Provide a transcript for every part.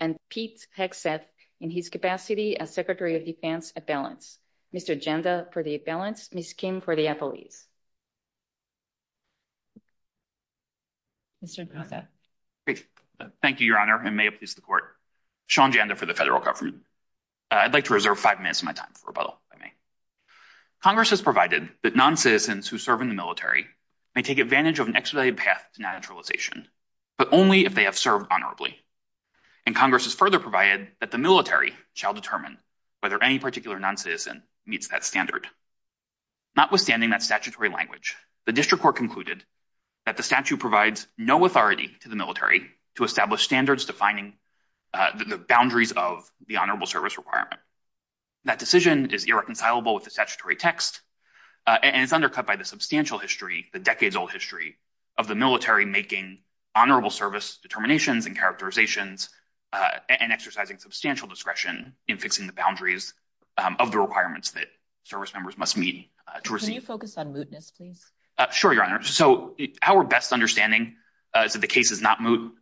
and Pete Hexeth in his capacity as Secretary of Defense at Balance, Mr. Janda for the At-Balance and Ms. Kim for the Apple-Ease. Mr. Protha. Thank you, Your Honor, and may it please the Court. Sean Janda for the Federal Government. I'd like to reserve five minutes of my time for rebuttal, if I may. Congress has provided that noncitizens who serve in the military may take advantage of an expedited path to naturalization, but only if they have served honorably. And Congress has further provided that the military shall determine whether any particular noncitizen meets that standard. Notwithstanding that statutory language, the District Court concluded that the statute provides no authority to the military to establish standards defining the boundaries of the honorable service requirement. That decision is irreconcilable with the statutory text, and it's undercut by the substantial history, the decades-old history, of the military making honorable service determinations and characterizations and exercising substantial discretion in fixing the boundaries of the requirements that service members must meet. Can you focus on mootness, please? Sure, Your Honor. So our best understanding is that the case is not moot,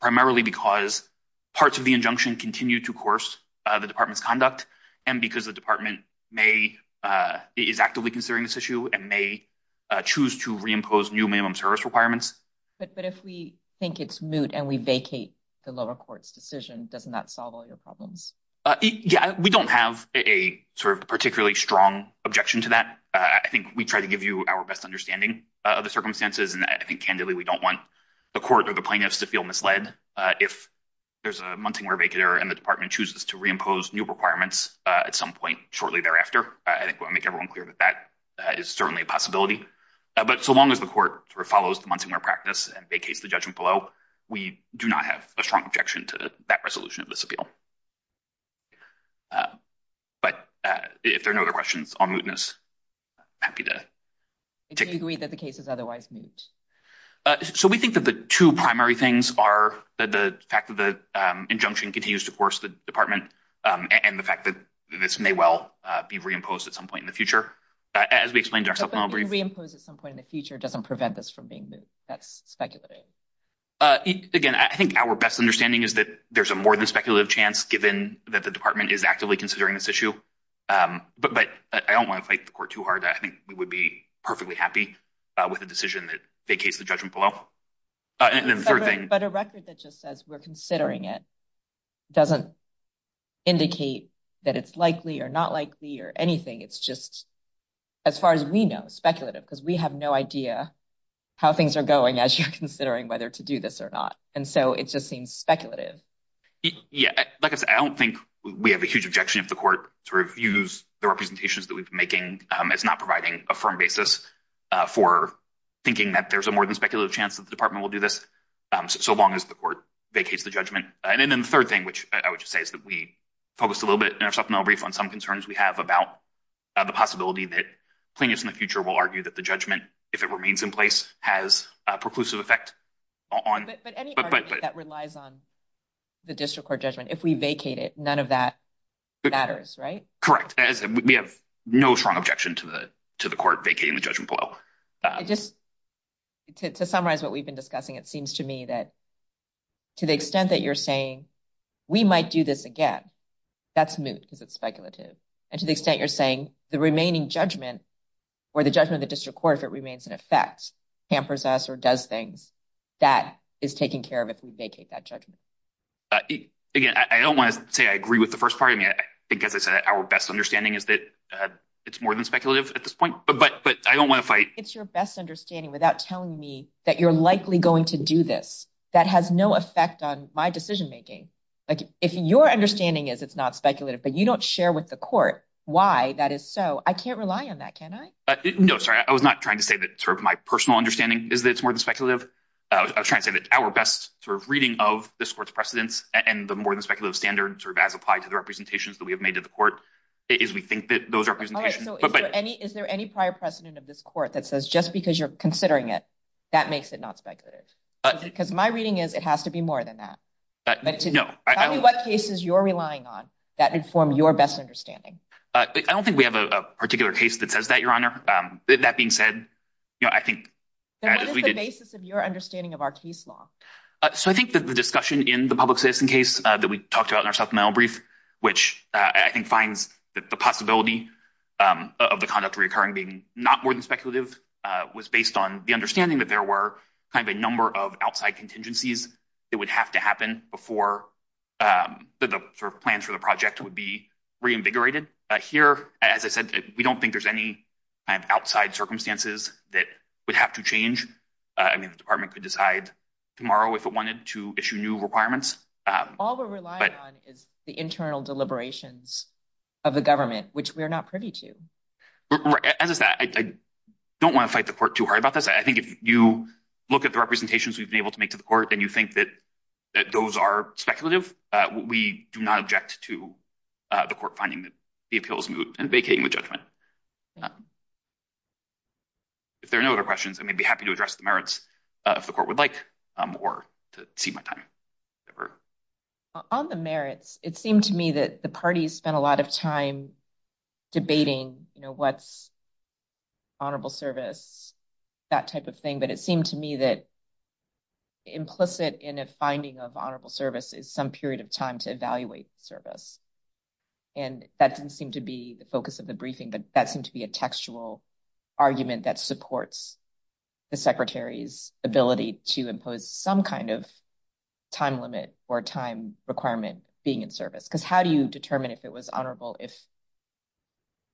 primarily because parts of the injunction continue to coerce the Department's conduct, and because the Department is actively considering this issue and may choose to reimpose new minimum service requirements. But if we think it's moot and we vacate the lower court's decision, doesn't that solve all your problems? Yeah, we don't have a sort of particularly strong objection to that. I think we try to give you our best understanding of the circumstances, and I think, candidly, we don't want the court or the plaintiffs to feel misled. If there's a Munsingware vacater and the Department chooses to reimpose new requirements at some point shortly thereafter, I think we'll make everyone clear that that is certainly a possibility. But so long as the court follows the Munsingware practice and vacates the judgment below, we do not have a strong objection to that resolution of this appeal. But if there are no other questions on mootness, I'm happy to take them. Do you agree that the case is otherwise moot? So we think that the two primary things are the fact that the injunction continues to coerce the Department and the fact that this may well be reimposed at some point in the future, as we explained to our supplemental brief. But being reimposed at some point in the future doesn't prevent this from being moot. That's speculative. Again, I think our best understanding is that there's a more than speculative chance, given that the Department is actively considering this issue. But I don't want to fight the court too hard. I think we would be perfectly happy with a decision that vacates the judgment below. But a record that just says we're considering it doesn't indicate that it's likely or not likely or anything. It's just, as far as we know, speculative, because we have no idea how things are going as you're considering whether to do this or not. And so it just seems speculative. Like I said, I don't think we have a huge objection if the court sort of views the representations that we've been making as not providing a firm basis for thinking that there's a more than speculative chance that the Department will do this, so long as the court vacates the judgment. And then the third thing, which I would just say is that we focused a little bit in our supplemental brief on some concerns we have about the possibility that plaintiffs in the future will argue that the judgment, if it remains in place, has a preclusive effect. But any argument that relies on the district court judgment, if we vacate it, none of that matters, right? Correct. We have no strong objection to the court vacating the judgment below. To summarize what we've been discussing, it seems to me that to the extent that you're saying we might do this again, that's moot because it's speculative. And to the extent you're saying the remaining judgment or the judgment of the district court, if it remains in effect, hampers us or does things, that is taken care of if we vacate that judgment. Again, I don't want to say I agree with the first part. I mean, I think, as I said, our best understanding is that it's more than speculative at this point, but I don't want to fight. It's your best understanding without telling me that you're likely going to do this. That has no effect on my decision making. Like, if your understanding is it's not speculative, but you don't share with the court why that is so, I can't rely on that, can I? No, sorry. I was not trying to say that my personal understanding is that it's more than speculative. I was trying to say that our best reading of this court's precedents and the more than speculative standard as applied to the representations that we have made to the court is we think that those representations. Is there any prior precedent of this court that says just because you're considering it, that makes it not speculative? Because my reading is it has to be more than that. No. Tell me what cases you're relying on that inform your best understanding. I don't think we have a particular case that says that, Your Honor. That being said, I think. What is the basis of your understanding of our case law? So I think that the discussion in the public citizen case that we talked about in our supplemental brief, which I think finds that the possibility of the conduct reoccurring being not more than speculative, was based on the understanding that there were kind of a number of outside contingencies that would have to happen before the plans for the project would be reinvigorated. Here, as I said, we don't think there's any outside circumstances that would have to change. I mean, the department could decide tomorrow if it wanted to issue new requirements. All we're relying on is the internal deliberations of the government, which we are not privy to. As I said, I don't want to fight the court too hard about this. I think if you look at the representations we've been able to make to the court and you think that those are speculative, we do not object to the court finding the appeals moved and vacating the judgment. If there are no other questions, I may be happy to address the merits of the court would like or to see my time. On the merits, it seemed to me that the parties spent a lot of time debating, you know, what's honorable service, that type of thing. But it seemed to me that implicit in a finding of honorable service is some period of time to evaluate service. And that didn't seem to be the focus of the briefing, but that seemed to be a textual argument that supports the secretary's ability to impose some kind of time limit or time requirement being in service. Because how do you determine if it was honorable if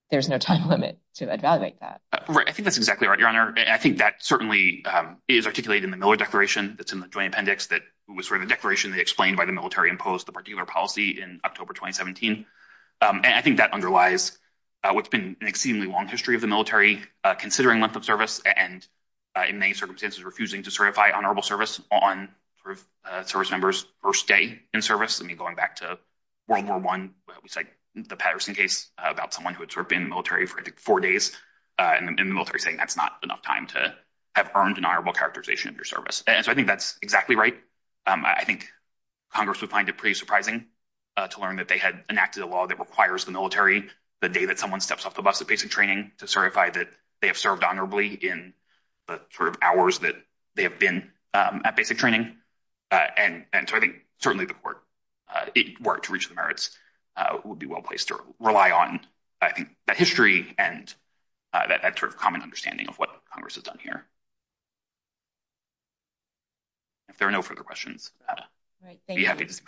there's no time limit to evaluate that? I think that's exactly right, Your Honor. And I think that certainly is articulated in the Miller Declaration that's in the Joint Appendix, that was sort of a declaration that explained by the military imposed the particular policy in October 2017. And I think that underlies what's been an exceedingly long history of the military considering length of service and in many circumstances refusing to certify honorable service on service members first day in service. I mean, going back to World War I, we cite the Patterson case about someone who had sort of been in the military for four days. And the military is saying that's not enough time to have earned an honorable characterization of your service. And so I think that's exactly right. I think Congress would find it pretty surprising to learn that they had enacted a law that requires the military the day that someone steps off the bus at basic training to certify that they have served honorably in the sort of hours that they have been at basic training. And so I think certainly the court, if it were to reach the merits, would be well-placed to rely on, I think, that history and that sort of common understanding of what Congress has done here. If there are no further questions, I'd be happy to see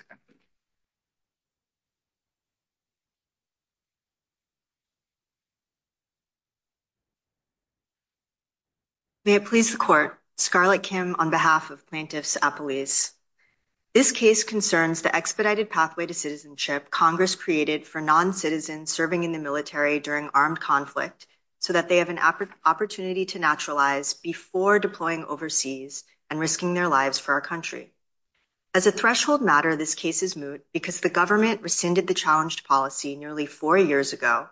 them. May it please the Court. Scarlett Kim on behalf of Plaintiffs Appellees. This case concerns the expedited pathway to citizenship Congress created for non-citizens serving in the military during armed conflict so that they have an opportunity to naturalize before deploying overseas and risking their lives for our country. As a threshold matter, this case is moot because the government rescinded the challenged policy nearly four years ago,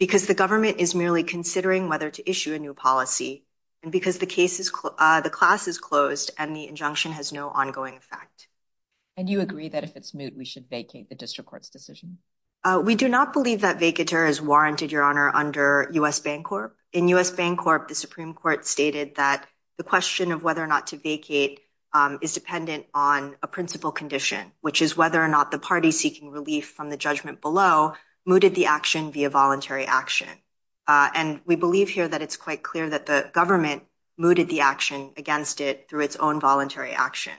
because the government is merely considering whether to issue a new policy, and because the class is closed and the injunction has no ongoing effect. And you agree that if it's moot, we should vacate the district court's decision? We do not believe that vacater is warranted, Your Honor, under U.S. Bancorp. In U.S. Bancorp, the Supreme Court stated that the question of whether or not to vacate is dependent on a principal condition, which is whether or not the party seeking relief from the judgment below mooted the action via voluntary action. And we believe here that it's quite clear that the government mooted the action against it through its own voluntary action.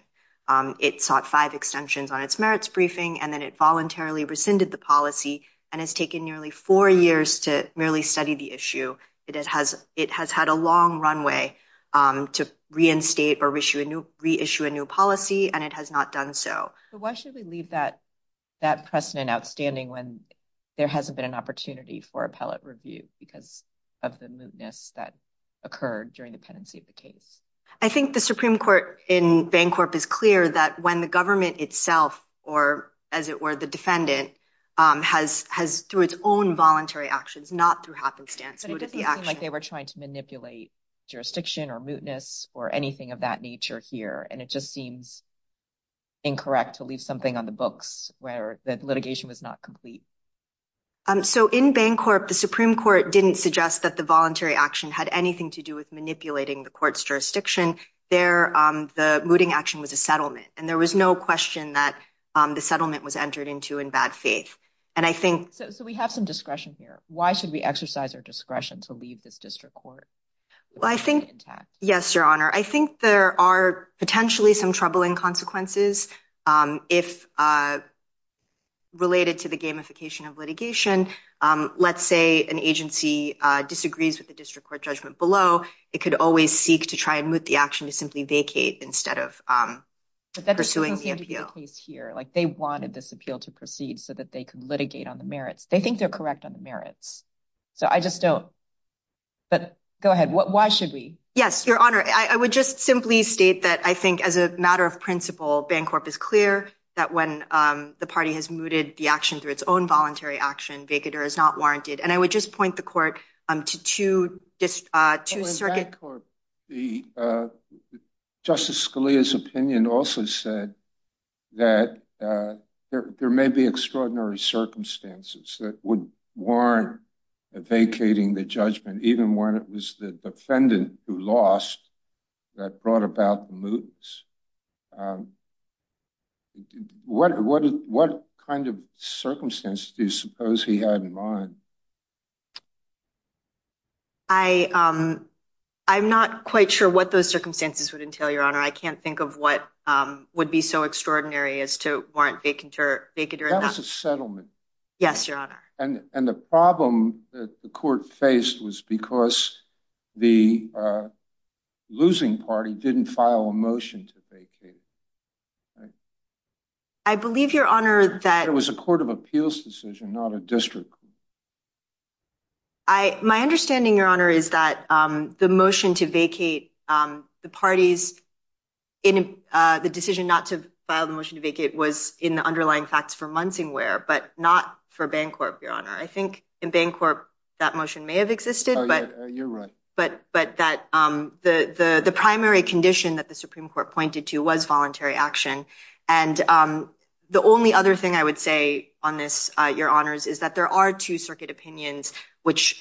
It sought five extensions on its merits briefing, and then it voluntarily rescinded the policy and has taken nearly four years to merely study the issue. It has had a long runway to reinstate or reissue a new policy, and it has not done so. But why should we leave that precedent outstanding when there hasn't been an opportunity for appellate review because of the mootness that occurred during the pendency of the case? I think the Supreme Court in Bancorp is clear that when the government itself or, as it were, the defendant, has through its own voluntary actions, not through happenstance, mooted the action. But it doesn't seem like they were trying to manipulate jurisdiction or mootness or anything of that nature here, and it just seems incorrect to leave something on the books where the litigation was not complete. So in Bancorp, the Supreme Court didn't suggest that the voluntary action had anything to do with manipulating the court's jurisdiction. There, the mooting action was a settlement, and there was no question that the settlement was entered into in bad faith. So we have some discretion here. Why should we exercise our discretion to leave this district court? Well, I think, yes, Your Honor, I think there are potentially some troubling consequences if related to the gamification of litigation. Let's say an agency disagrees with the district court judgment below. It could always seek to try and moot the action to simply vacate instead of pursuing the appeal. But that doesn't seem to be the case here. Like, they wanted this appeal to proceed so that they could litigate on the merits. They think they're correct on the merits. So I just don't. But go ahead. Why should we? Yes, Your Honor, I would just simply state that I think as a matter of principle, Bancorp is clear that when the party has mooted the action through its own voluntary action, vacater is not warranted. And I would just point the court to two circuit courts. Justice Scalia's opinion also said that there may be extraordinary circumstances that would warrant vacating the judgment, even when it was the defendant who lost that brought about the moots. What kind of circumstances do you suppose he had in mind? I'm not quite sure what those circumstances would entail, Your Honor. I can't think of what would be so extraordinary as to warrant vacater. That was a settlement. Yes, Your Honor. And the problem that the court faced was because the losing party didn't file a motion to vacate. I believe, Your Honor, that it was a court of appeals decision, not a district. My understanding, Your Honor, is that the motion to vacate the parties in the decision not to file the motion to vacate was in the underlying facts for Munsingware, but not for Bancorp, Your Honor. I think in Bancorp that motion may have existed. But that the primary condition that the Supreme Court pointed to was voluntary action. And the only other thing I would say on this, Your Honors, is that there are two circuit opinions, which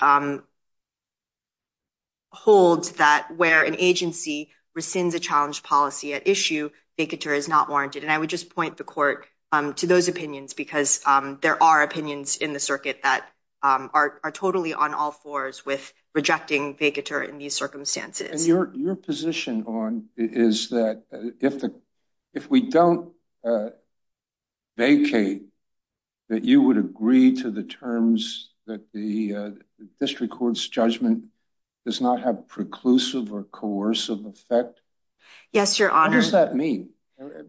hold that where an agency rescinds a challenge policy at issue, vacater is not warranted. And I would just point the court to those opinions because there are opinions in the circuit that are totally on all fours with rejecting vacater in these circumstances. Your position is that if we don't vacate, that you would agree to the terms that the district court's judgment does not have preclusive or coercive effect. Yes, Your Honor. What does that mean?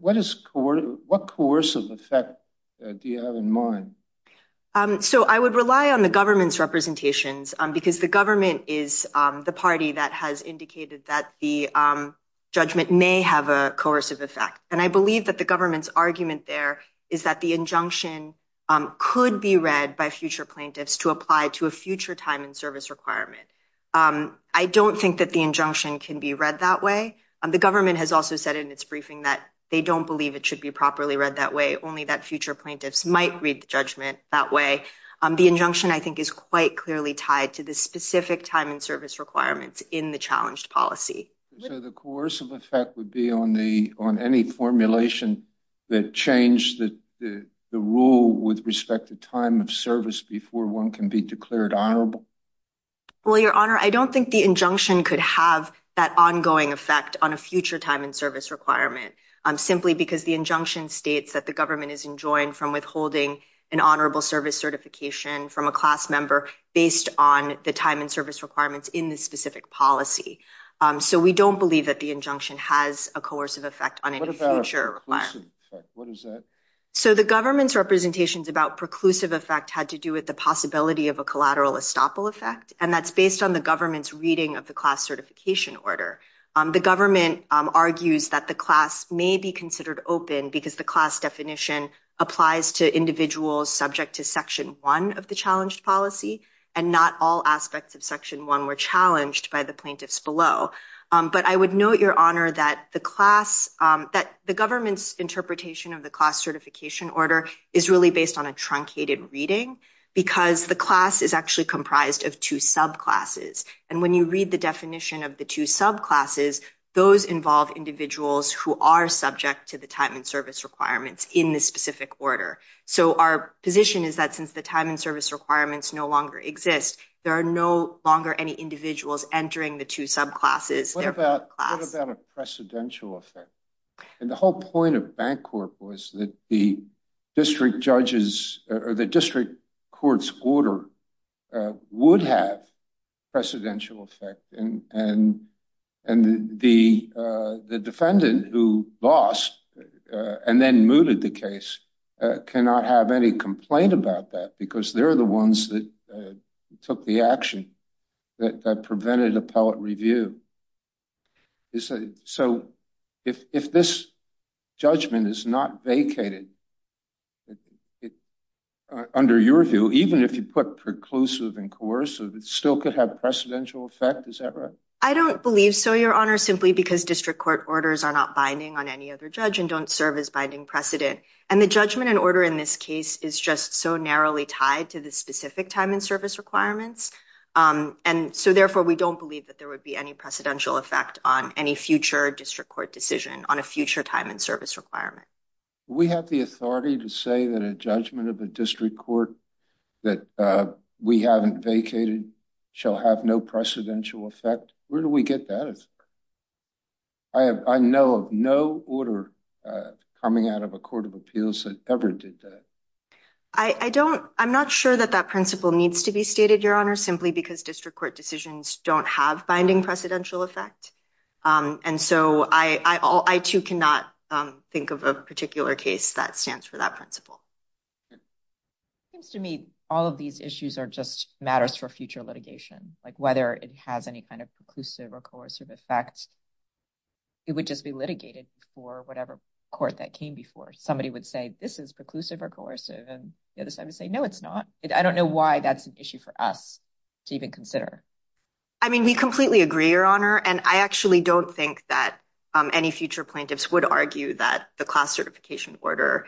What coercive effect do you have in mind? So I would rely on the government's representations because the government is the party that has indicated that the judgment may have a coercive effect. And I believe that the government's argument there is that the injunction could be read by future plaintiffs to apply to a future time and service requirement. I don't think that the injunction can be read that way. The government has also said in its briefing that they don't believe it should be properly read that way. Only that future plaintiffs might read the judgment that way. The injunction, I think, is quite clearly tied to the specific time and service requirements in the challenged policy. So the coercive effect would be on any formulation that changed the rule with respect to time of service before one can be declared honorable? Well, Your Honor, I don't think the injunction could have that ongoing effect on a future time and service requirement, simply because the injunction states that the government is enjoined from withholding an honorable service certification from a class member based on the time and service requirements in the specific policy. So we don't believe that the injunction has a coercive effect on any future requirement. What about a preclusive effect? What is that? So the government's representations about preclusive effect had to do with the possibility of a collateral estoppel effect, and that's based on the government's reading of the class certification order. The government argues that the class may be considered open because the class definition applies to individuals subject to Section 1 of the challenged policy, and not all aspects of Section 1 were challenged by the plaintiffs below. But I would note, Your Honor, that the government's interpretation of the class certification order is really based on a truncated reading, because the class is actually comprised of two subclasses. And when you read the definition of the two subclasses, those involve individuals who are subject to the time and service requirements in the specific order. So our position is that since the time and service requirements no longer exist, there are no longer any individuals entering the two subclasses. What about a precedential effect? And the whole point of Bancorp was that the district court's order would have precedential effect, and the defendant who lost and then mooted the case cannot have any complaint about that, because they're the ones that took the action that prevented appellate review. So if this judgment is not vacated, under your view, even if you put preclusive and coercive, it still could have precedential effect, is that right? I don't believe so, Your Honor, simply because district court orders are not binding on any other judge and don't serve as binding precedent. And the judgment and order in this case is just so narrowly tied to the specific time and service requirements, and so therefore we don't believe that there would be any precedential effect on any future district court decision on a future time and service requirement. We have the authority to say that a judgment of a district court that we haven't vacated shall have no precedential effect? Where do we get that? I know of no order coming out of a court of appeals that ever did that. I'm not sure that that principle needs to be stated, Your Honor, simply because district court decisions don't have binding precedential effect. And so I, too, cannot think of a particular case that stands for that principle. It seems to me all of these issues are just matters for future litigation, like whether it has any kind of preclusive or coercive effect. It would just be litigated for whatever court that came before. Somebody would say this is preclusive or coercive, and the other side would say, no, it's not. I don't know why that's an issue for us to even consider. I mean, we completely agree, Your Honor, and I actually don't think that any future plaintiffs would argue that the class certification order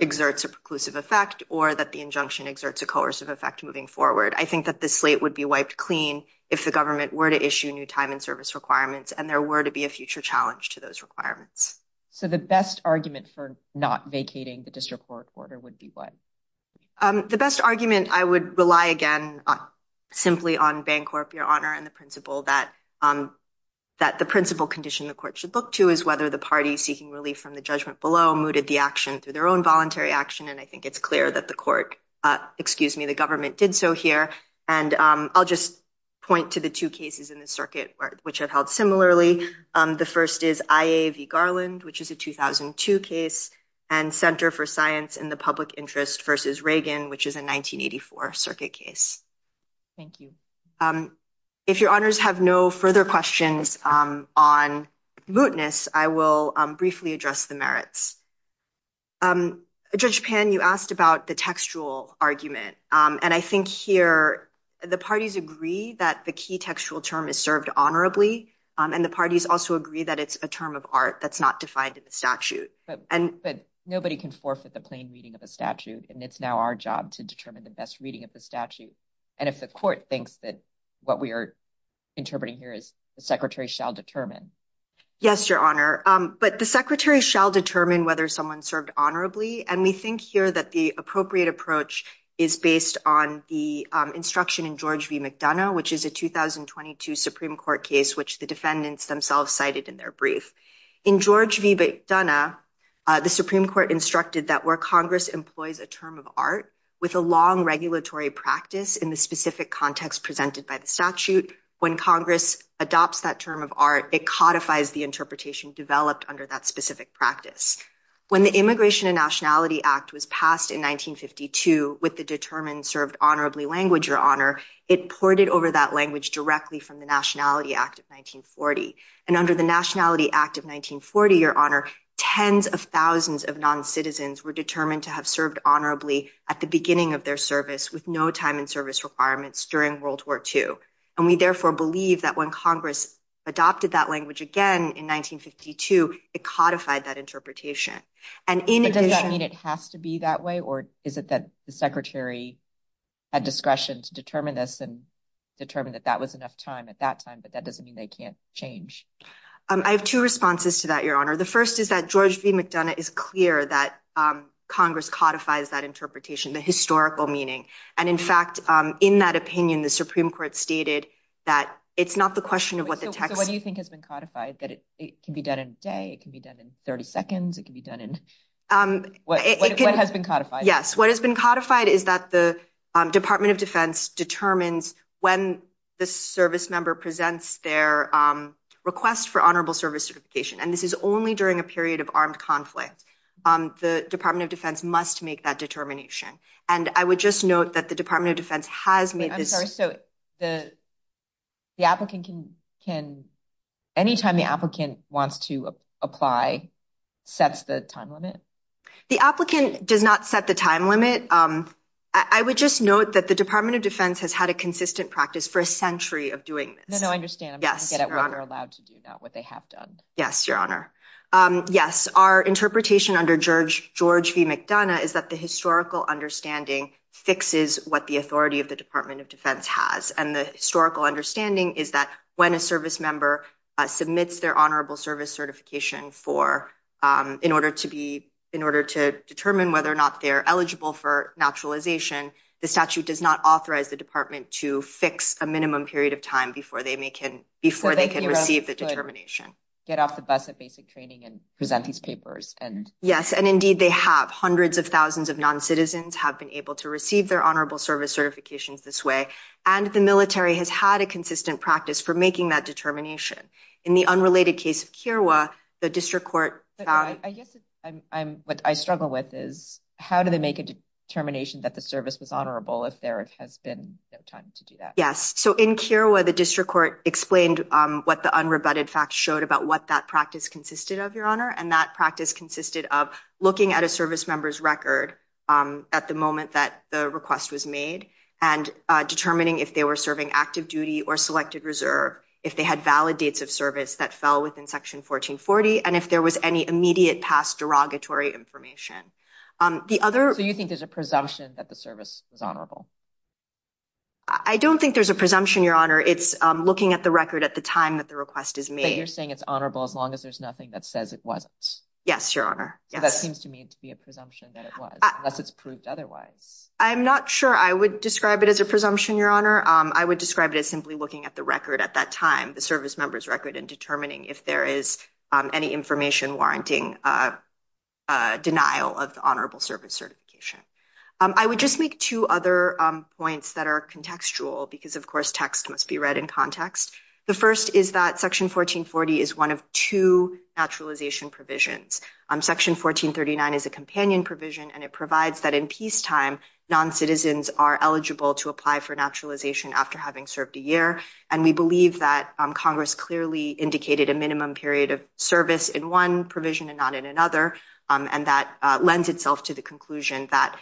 exerts a preclusive effect or that the injunction exerts a coercive effect moving forward. I think that the slate would be wiped clean if the government were to issue new time and service requirements and there were to be a future challenge to those requirements. So the best argument for not vacating the district court order would be what? The best argument I would rely, again, simply on Bancorp, Your Honor, and the principle that the principle condition the court should look to is whether the party seeking relief from the judgment below mooted the action through their own voluntary action. And I think it's clear that the court excuse me, the government did so here. And I'll just point to the two cases in the circuit which have held similarly. The first is IAV Garland, which is a 2002 case and Center for Science in the Public Interest versus Reagan, which is a 1984 circuit case. Thank you. If your honors have no further questions on mootness, I will briefly address the merits. Judge Pan, you asked about the textual argument. And I think here the parties agree that the key textual term is served honorably. And the parties also agree that it's a term of art that's not defined in the statute. And but nobody can forfeit the plain reading of a statute. And it's now our job to determine the best reading of the statute. And if the court thinks that what we are interpreting here is the secretary shall determine. Yes, your honor. But the secretary shall determine whether someone served honorably. And we think here that the appropriate approach is based on the instruction in George v. McDonough, which is a 2022 Supreme Court case, which the defendants themselves cited in their brief. In George v. McDonough, the Supreme Court instructed that where Congress employs a term of art with a long regulatory practice in the specific context presented by the statute. When Congress adopts that term of art, it codifies the interpretation developed under that specific practice. When the Immigration and Nationality Act was passed in 1952 with the determined served honorably language, your honor. It ported over that language directly from the Nationality Act of 1940. And under the Nationality Act of 1940, your honor, tens of thousands of non-citizens were determined to have served honorably at the beginning of their service with no time and service requirements during World War II. And we therefore believe that when Congress adopted that language again in 1952, it codified that interpretation. And does that mean it has to be that way or is it that the secretary had discretion to determine this and determine that that was enough time at that time? But that doesn't mean they can't change. I have two responses to that, your honor. The first is that George v. McDonough is clear that Congress codifies that interpretation, the historical meaning. And in fact, in that opinion, the Supreme Court stated that it's not the question of what the text. What do you think has been codified that it can be done in a day? It can be done in 30 seconds. It can be done in what has been codified. Yes. What has been codified is that the Department of Defense determines when the service member presents their request for honorable service certification. And this is only during a period of armed conflict. The Department of Defense must make that determination. And I would just note that the Department of Defense has made this. So the the applicant can can anytime the applicant wants to apply sets the time limit. The applicant does not set the time limit. I would just note that the Department of Defense has had a consistent practice for a century of doing this. No, I understand. Yes. You're allowed to do what they have done. Yes, Your Honor. Yes. Our interpretation under George George v. McDonough is that the historical understanding fixes what the authority of the Department of Defense has. And the historical understanding is that when a service member submits their honorable service certification for in order to be in order to determine whether or not they're eligible for naturalization, the statute does not authorize the department to fix a minimum period of time before they may can before they can receive the determination. Get off the bus at basic training and present these papers. And yes. And indeed, they have hundreds of thousands of non-citizens have been able to receive their honorable service certifications this way. And the military has had a consistent practice for making that determination. In the unrelated case of Kiowa, the district court. I guess I'm what I struggle with is how do they make a determination that the service was honorable if there has been no time to do that? Yes. So in Kiowa, the district court explained what the unrebutted facts showed about what that practice consisted of, Your Honor. And that practice consisted of looking at a service member's record at the moment that the request was made and determining if they were serving active duty or selected reserve, if they had valid dates of service that fell within Section 1440, and if there was any immediate past derogatory information. The other. So you think there's a presumption that the service is honorable? I don't think there's a presumption, Your Honor. It's looking at the record at the time that the request is made. So you're saying it's honorable as long as there's nothing that says it wasn't? Yes, Your Honor. That seems to me to be a presumption that it was unless it's proved otherwise. I'm not sure I would describe it as a presumption, Your Honor. I would describe it as simply looking at the record at that time, the service member's record and determining if there is any information warranting denial of honorable service certification. I would just make two other points that are contextual because, of course, text must be read in context. The first is that Section 1440 is one of two naturalization provisions. Section 1439 is a companion provision, and it provides that in peacetime, non-citizens are eligible to apply for naturalization after having served a year. And we believe that Congress clearly indicated a minimum period of service in one provision and not in another. And that lends itself to the conclusion that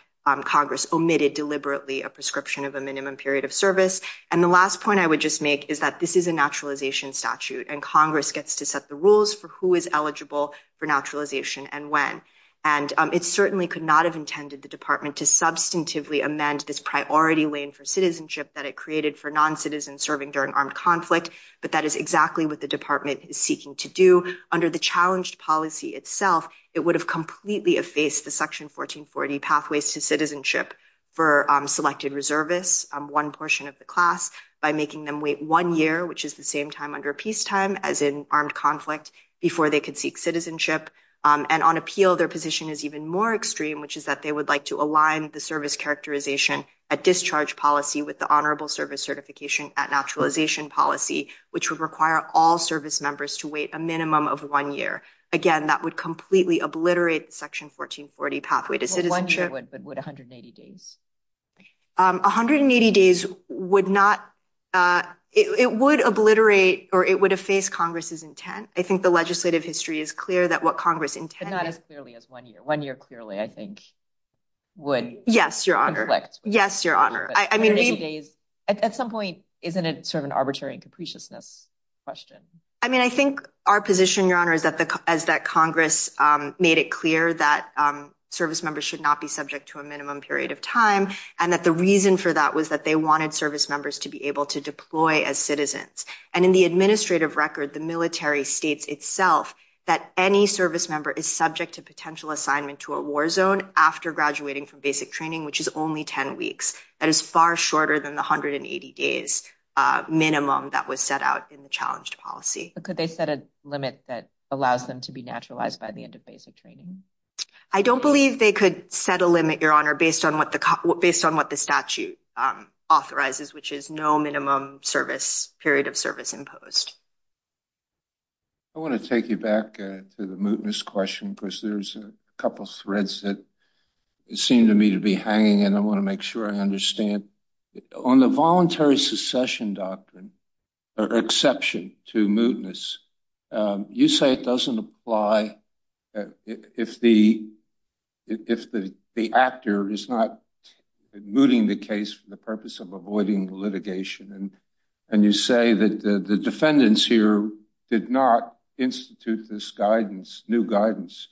Congress omitted deliberately a prescription of a minimum period of service. And the last point I would just make is that this is a naturalization statute, and Congress gets to set the rules for who is eligible for naturalization and when. And it certainly could not have intended the department to substantively amend this priority lane for citizenship that it created for non-citizens serving during armed conflict. But that is exactly what the department is seeking to do. Under the challenged policy itself, it would have completely effaced the Section 1440 pathways to citizenship for selected reservists. One portion of the class by making them wait one year, which is the same time under peacetime as in armed conflict, before they could seek citizenship. And on appeal, their position is even more extreme, which is that they would like to align the service characterization at discharge policy with the honorable service certification at naturalization policy, which would require all service members to wait a minimum of one year. Again, that would completely obliterate Section 1440 pathway to citizenship. 180 days would not. It would obliterate or it would have faced Congress's intent. I think the legislative history is clear that what Congress intended as clearly as one year, one year clearly, I think, would. Yes, Your Honor. Yes, Your Honor. I mean, at some point, isn't it sort of an arbitrary and capriciousness question? I mean, I think our position, Your Honor, is that as that Congress made it clear that service members should not be subject to a minimum period of time and that the reason for that was that they wanted service members to be able to deploy as citizens. And in the administrative record, the military states itself that any service member is subject to potential assignment to a war zone after graduating from basic training, which is only 10 weeks. That is far shorter than the 180 days minimum that was set out in the challenged policy. Could they set a limit that allows them to be naturalized by the end of basic training? I don't believe they could set a limit, Your Honor, based on what the based on what the statute authorizes, which is no minimum service period of service imposed. I want to take you back to the mootness question, because there's a couple of threads that seem to me to be hanging. And I want to make sure I understand on the voluntary secession doctrine or exception to mootness. You say it doesn't apply if the actor is not mooting the case for the purpose of avoiding litigation. And you say that the defendants here did not institute this guidance, new guidance,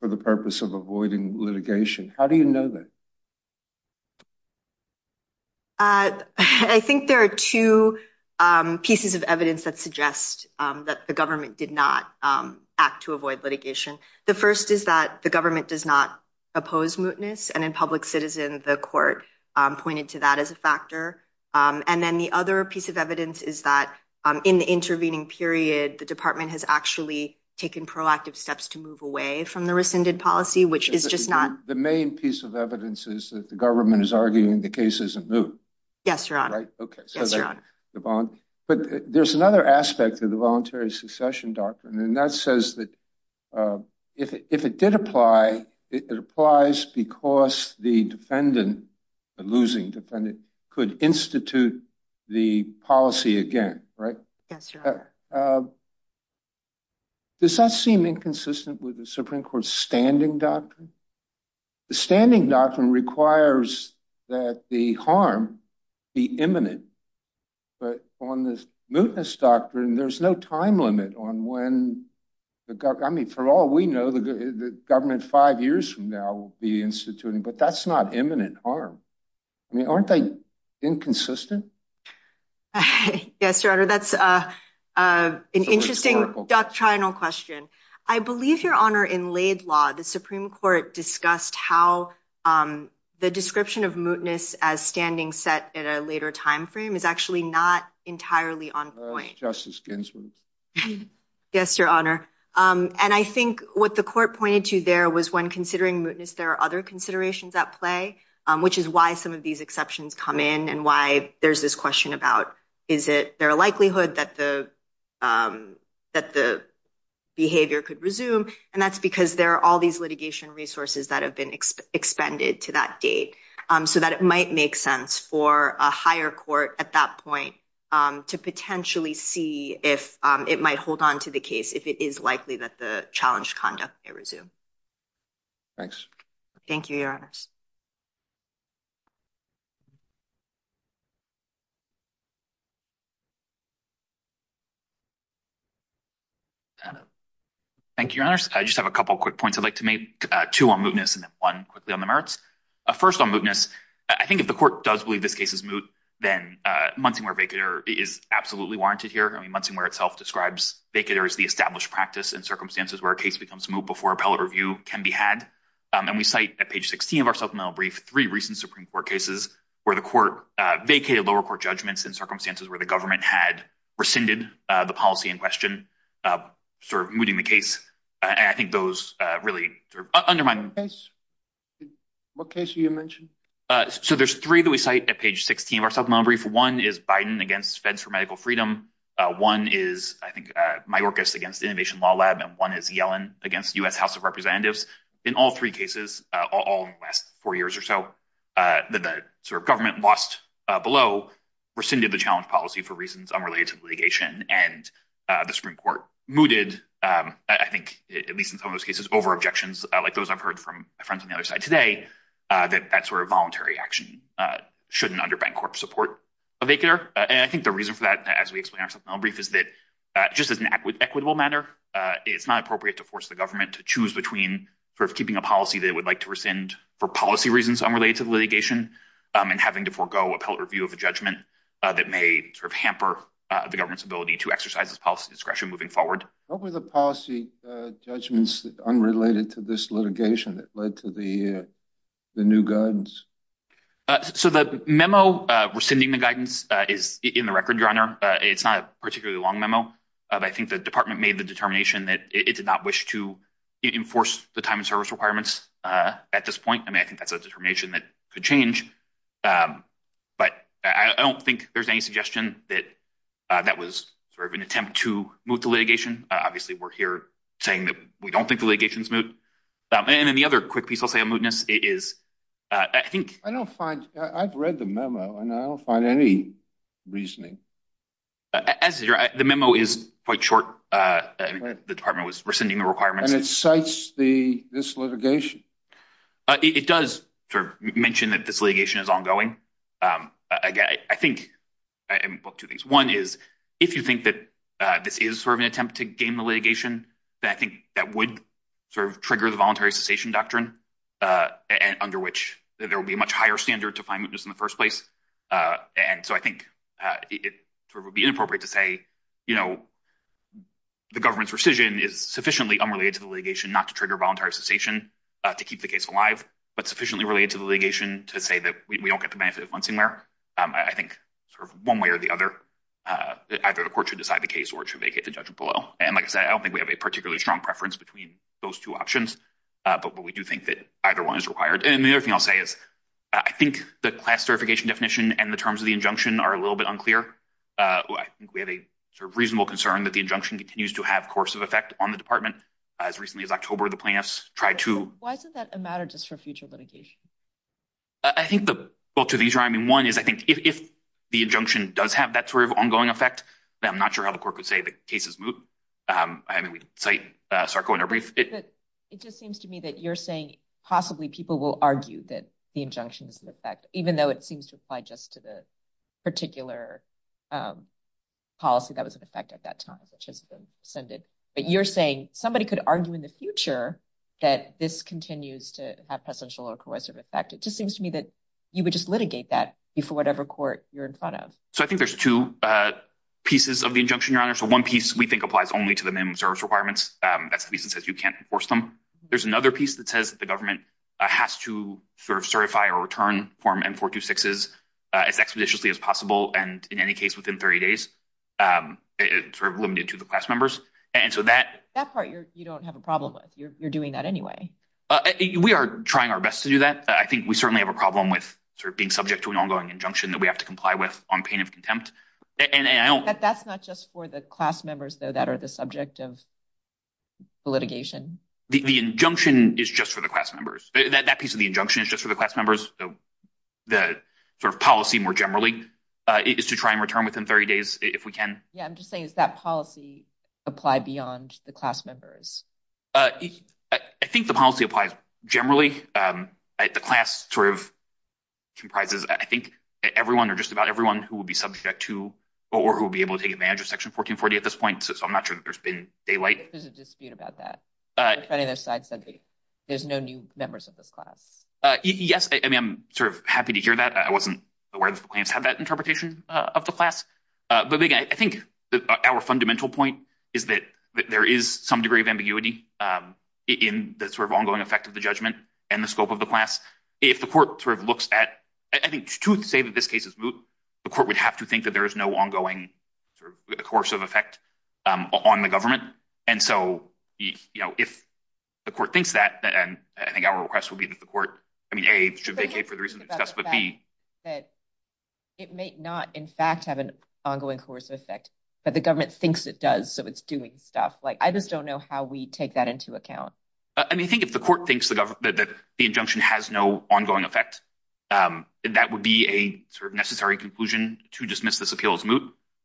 for the purpose of avoiding litigation. How do you know that? I think there are two pieces of evidence that suggest that the government did not act to avoid litigation. The first is that the government does not oppose mootness. And in public citizen, the court pointed to that as a factor. And then the other piece of evidence is that in the intervening period, the department has actually taken proactive steps to move away from the rescinded policy, which is just not. The main piece of evidence is that the government is arguing the case isn't moot. But there's another aspect of the voluntary succession doctrine, and that says that if it did apply, it applies because the defendant, the losing defendant, could institute the policy again. Does that seem inconsistent with the Supreme Court's standing doctrine? The standing doctrine requires that the harm be imminent. But on this mootness doctrine, there's no time limit on when. I mean, for all we know, the government five years from now will be instituting. But that's not imminent harm. I mean, aren't they inconsistent? Yes, Your Honor. That's an interesting doctrinal question. I believe, Your Honor, in laid law, the Supreme Court discussed how the description of mootness as standing set at a later time frame is actually not entirely on point. Justice Ginsburg. Yes, Your Honor. And I think what the court pointed to there was when considering mootness, there are other considerations at play, which is why some of these exceptions come in and why there's this question about is it there a likelihood that the that the behavior could resume? And that's because there are all these litigation resources that have been expended to that date so that it might make sense for a higher court at that point to potentially see if it might hold on to the case, if it is likely that the challenge conduct may resume. Thanks. Thank you, Your Honor. Thank you, Your Honor. I just have a couple of quick points. I'd like to make two on mootness and one quickly on the merits. First on mootness, I think if the court does believe this case is moot, then Munsingwear-Vacator is absolutely warranted here. Munsingwear itself describes vacator as the established practice and circumstances where a case becomes moot before appellate review can be had. And we cite at page 16 of our supplemental brief three recent Supreme Court cases where the court vacated lower court judgments in circumstances where the government had rescinded the policy in question, sort of mooting the case. I think those really undermine the case. What case did you mention? So there's three that we cite at page 16 of our supplemental brief. One is Biden against feds for medical freedom. One is, I think, Mayorkas against Innovation Law Lab, and one is Yellen against U.S. House of Representatives. In all three cases, all in the last four years or so, the government lost below, rescinded the challenge policy for reasons unrelated to litigation, and the Supreme Court mooted, I think, at least in some of those cases, over objections like those I've heard from friends on the other side today, that that sort of voluntary action shouldn't undermine court support of vacator. And I think the reason for that, as we explain our supplemental brief, is that just as an equitable matter, it's not appropriate to force the government to choose between keeping a policy they would like to rescind for policy reasons unrelated to litigation and having to forego appellate review of a judgment that may hamper the government's ability to exercise its policy discretion moving forward. What were the policy judgments unrelated to this litigation that led to the new guidance? So the memo rescinding the guidance is in the record, Your Honor. It's not a particularly long memo. I think the department made the determination that it did not wish to enforce the time and service requirements at this point. I mean, I think that's a determination that could change. But I don't think there's any suggestion that that was sort of an attempt to move to litigation. Obviously, we're here saying that we don't think the litigation is moot. And then the other quick piece, I'll say, on mootness is I think I don't find I've read the memo and I don't find any reasoning. As the memo is quite short, the department was rescinding the requirements. And it cites the this litigation. It does mention that this litigation is ongoing. I think two things. One is, if you think that this is sort of an attempt to gain the litigation, I think that would sort of trigger the voluntary cessation doctrine and under which there will be a much higher standard to find mootness in the first place. And so I think it would be inappropriate to say, you know, the government's rescission is sufficiently unrelated to the litigation not to trigger voluntary cessation to keep the case alive, but sufficiently related to the litigation to say that we don't get the benefit of once and where. I think one way or the other, either the court should decide the case, or it should make it to judgment below. And like I said, I don't think we have a particularly strong preference between those two options. But we do think that either one is required. And the other thing I'll say is, I think the classification definition and the terms of the injunction are a little bit unclear. I think we have a reasonable concern that the injunction continues to have course of effect on the department. As recently as October, the plaintiffs tried to, why isn't that a matter just for future litigation? I think the both of these are I mean, one is, I think, if the injunction does have that sort of ongoing effect, I'm not sure how the court would say the cases. I mean, we say Sarko in a brief. It just seems to me that you're saying possibly people will argue that the injunction is in effect, even though it seems to apply just to the particular policy that was in effect at that time, which has been send it. But you're saying somebody could argue in the future that this continues to have potential or corrosive effect. It just seems to me that you would just litigate that before whatever court you're in front of. So I think there's two pieces of the injunction, your honor. So one piece we think applies only to the minimum service requirements. That's the reason says you can't force them. There's another piece that says the government has to sort of certify or return form and four to six is as expeditiously as possible. And in any case, within 30 days, sort of limited to the class members. And so that that part, you don't have a problem with you're doing that anyway. We are trying our best to do that. I think we certainly have a problem with sort of being subject to an ongoing injunction that we have to comply with on pain of contempt. And that's not just for the class members, though, that are the subject of litigation. The injunction is just for the class members. That piece of the injunction is just for the class members. The sort of policy more generally is to try and return within 30 days if we can. Yeah, I'm just saying is that policy apply beyond the class members? I think the policy applies generally. The class sort of comprises. I think everyone or just about everyone who will be subject to or who will be able to take advantage of Section 1440 at this point. So I'm not sure there's been daylight. There's a dispute about that. But either side said there's no new members of this class. Yes. I mean, I'm sort of happy to hear that. I wasn't aware of the plans have that interpretation of the class. But I think our fundamental point is that there is some degree of ambiguity in the sort of ongoing effect of the judgment and the scope of the class. If the court sort of looks at, I think, to say that this case is moot, the court would have to think that there is no ongoing sort of course of effect on the government. And so, you know, if the court thinks that, and I think our request would be that the court, I mean, a should vacate for the reason that would be that. It may not, in fact, have an ongoing course of effect, but the government thinks it does. So it's doing stuff like I just don't know how we take that into account. I mean, I think if the court thinks that the injunction has no ongoing effect, that would be a sort of necessary conclusion to dismiss this appeal as moot.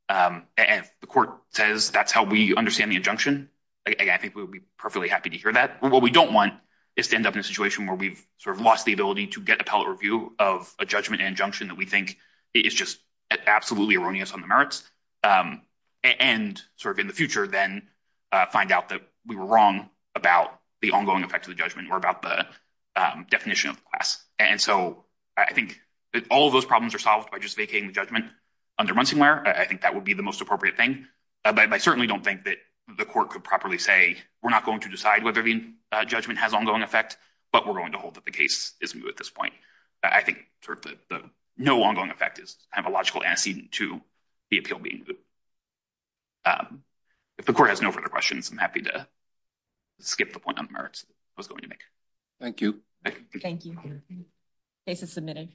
And if the court says that's how we understand the injunction, I think we would be perfectly happy to hear that. What we don't want is to end up in a situation where we've sort of lost the ability to get appellate review of a judgment and injunction that we think is just absolutely erroneous on the merits. And sort of in the future, then find out that we were wrong about the ongoing effect of the judgment or about the definition of class. And so I think all of those problems are solved by just vacating the judgment under Munsingware. I think that would be the most appropriate thing. But I certainly don't think that the court could properly say we're not going to decide whether the judgment has ongoing effect, but we're going to hold that the case is moot at this point. I think sort of the no ongoing effect is a logical antecedent to the appeal being moot. If the court has no further questions, I'm happy to skip the point on the merits I was going to make. Thank you. Thank you. Case is submitted.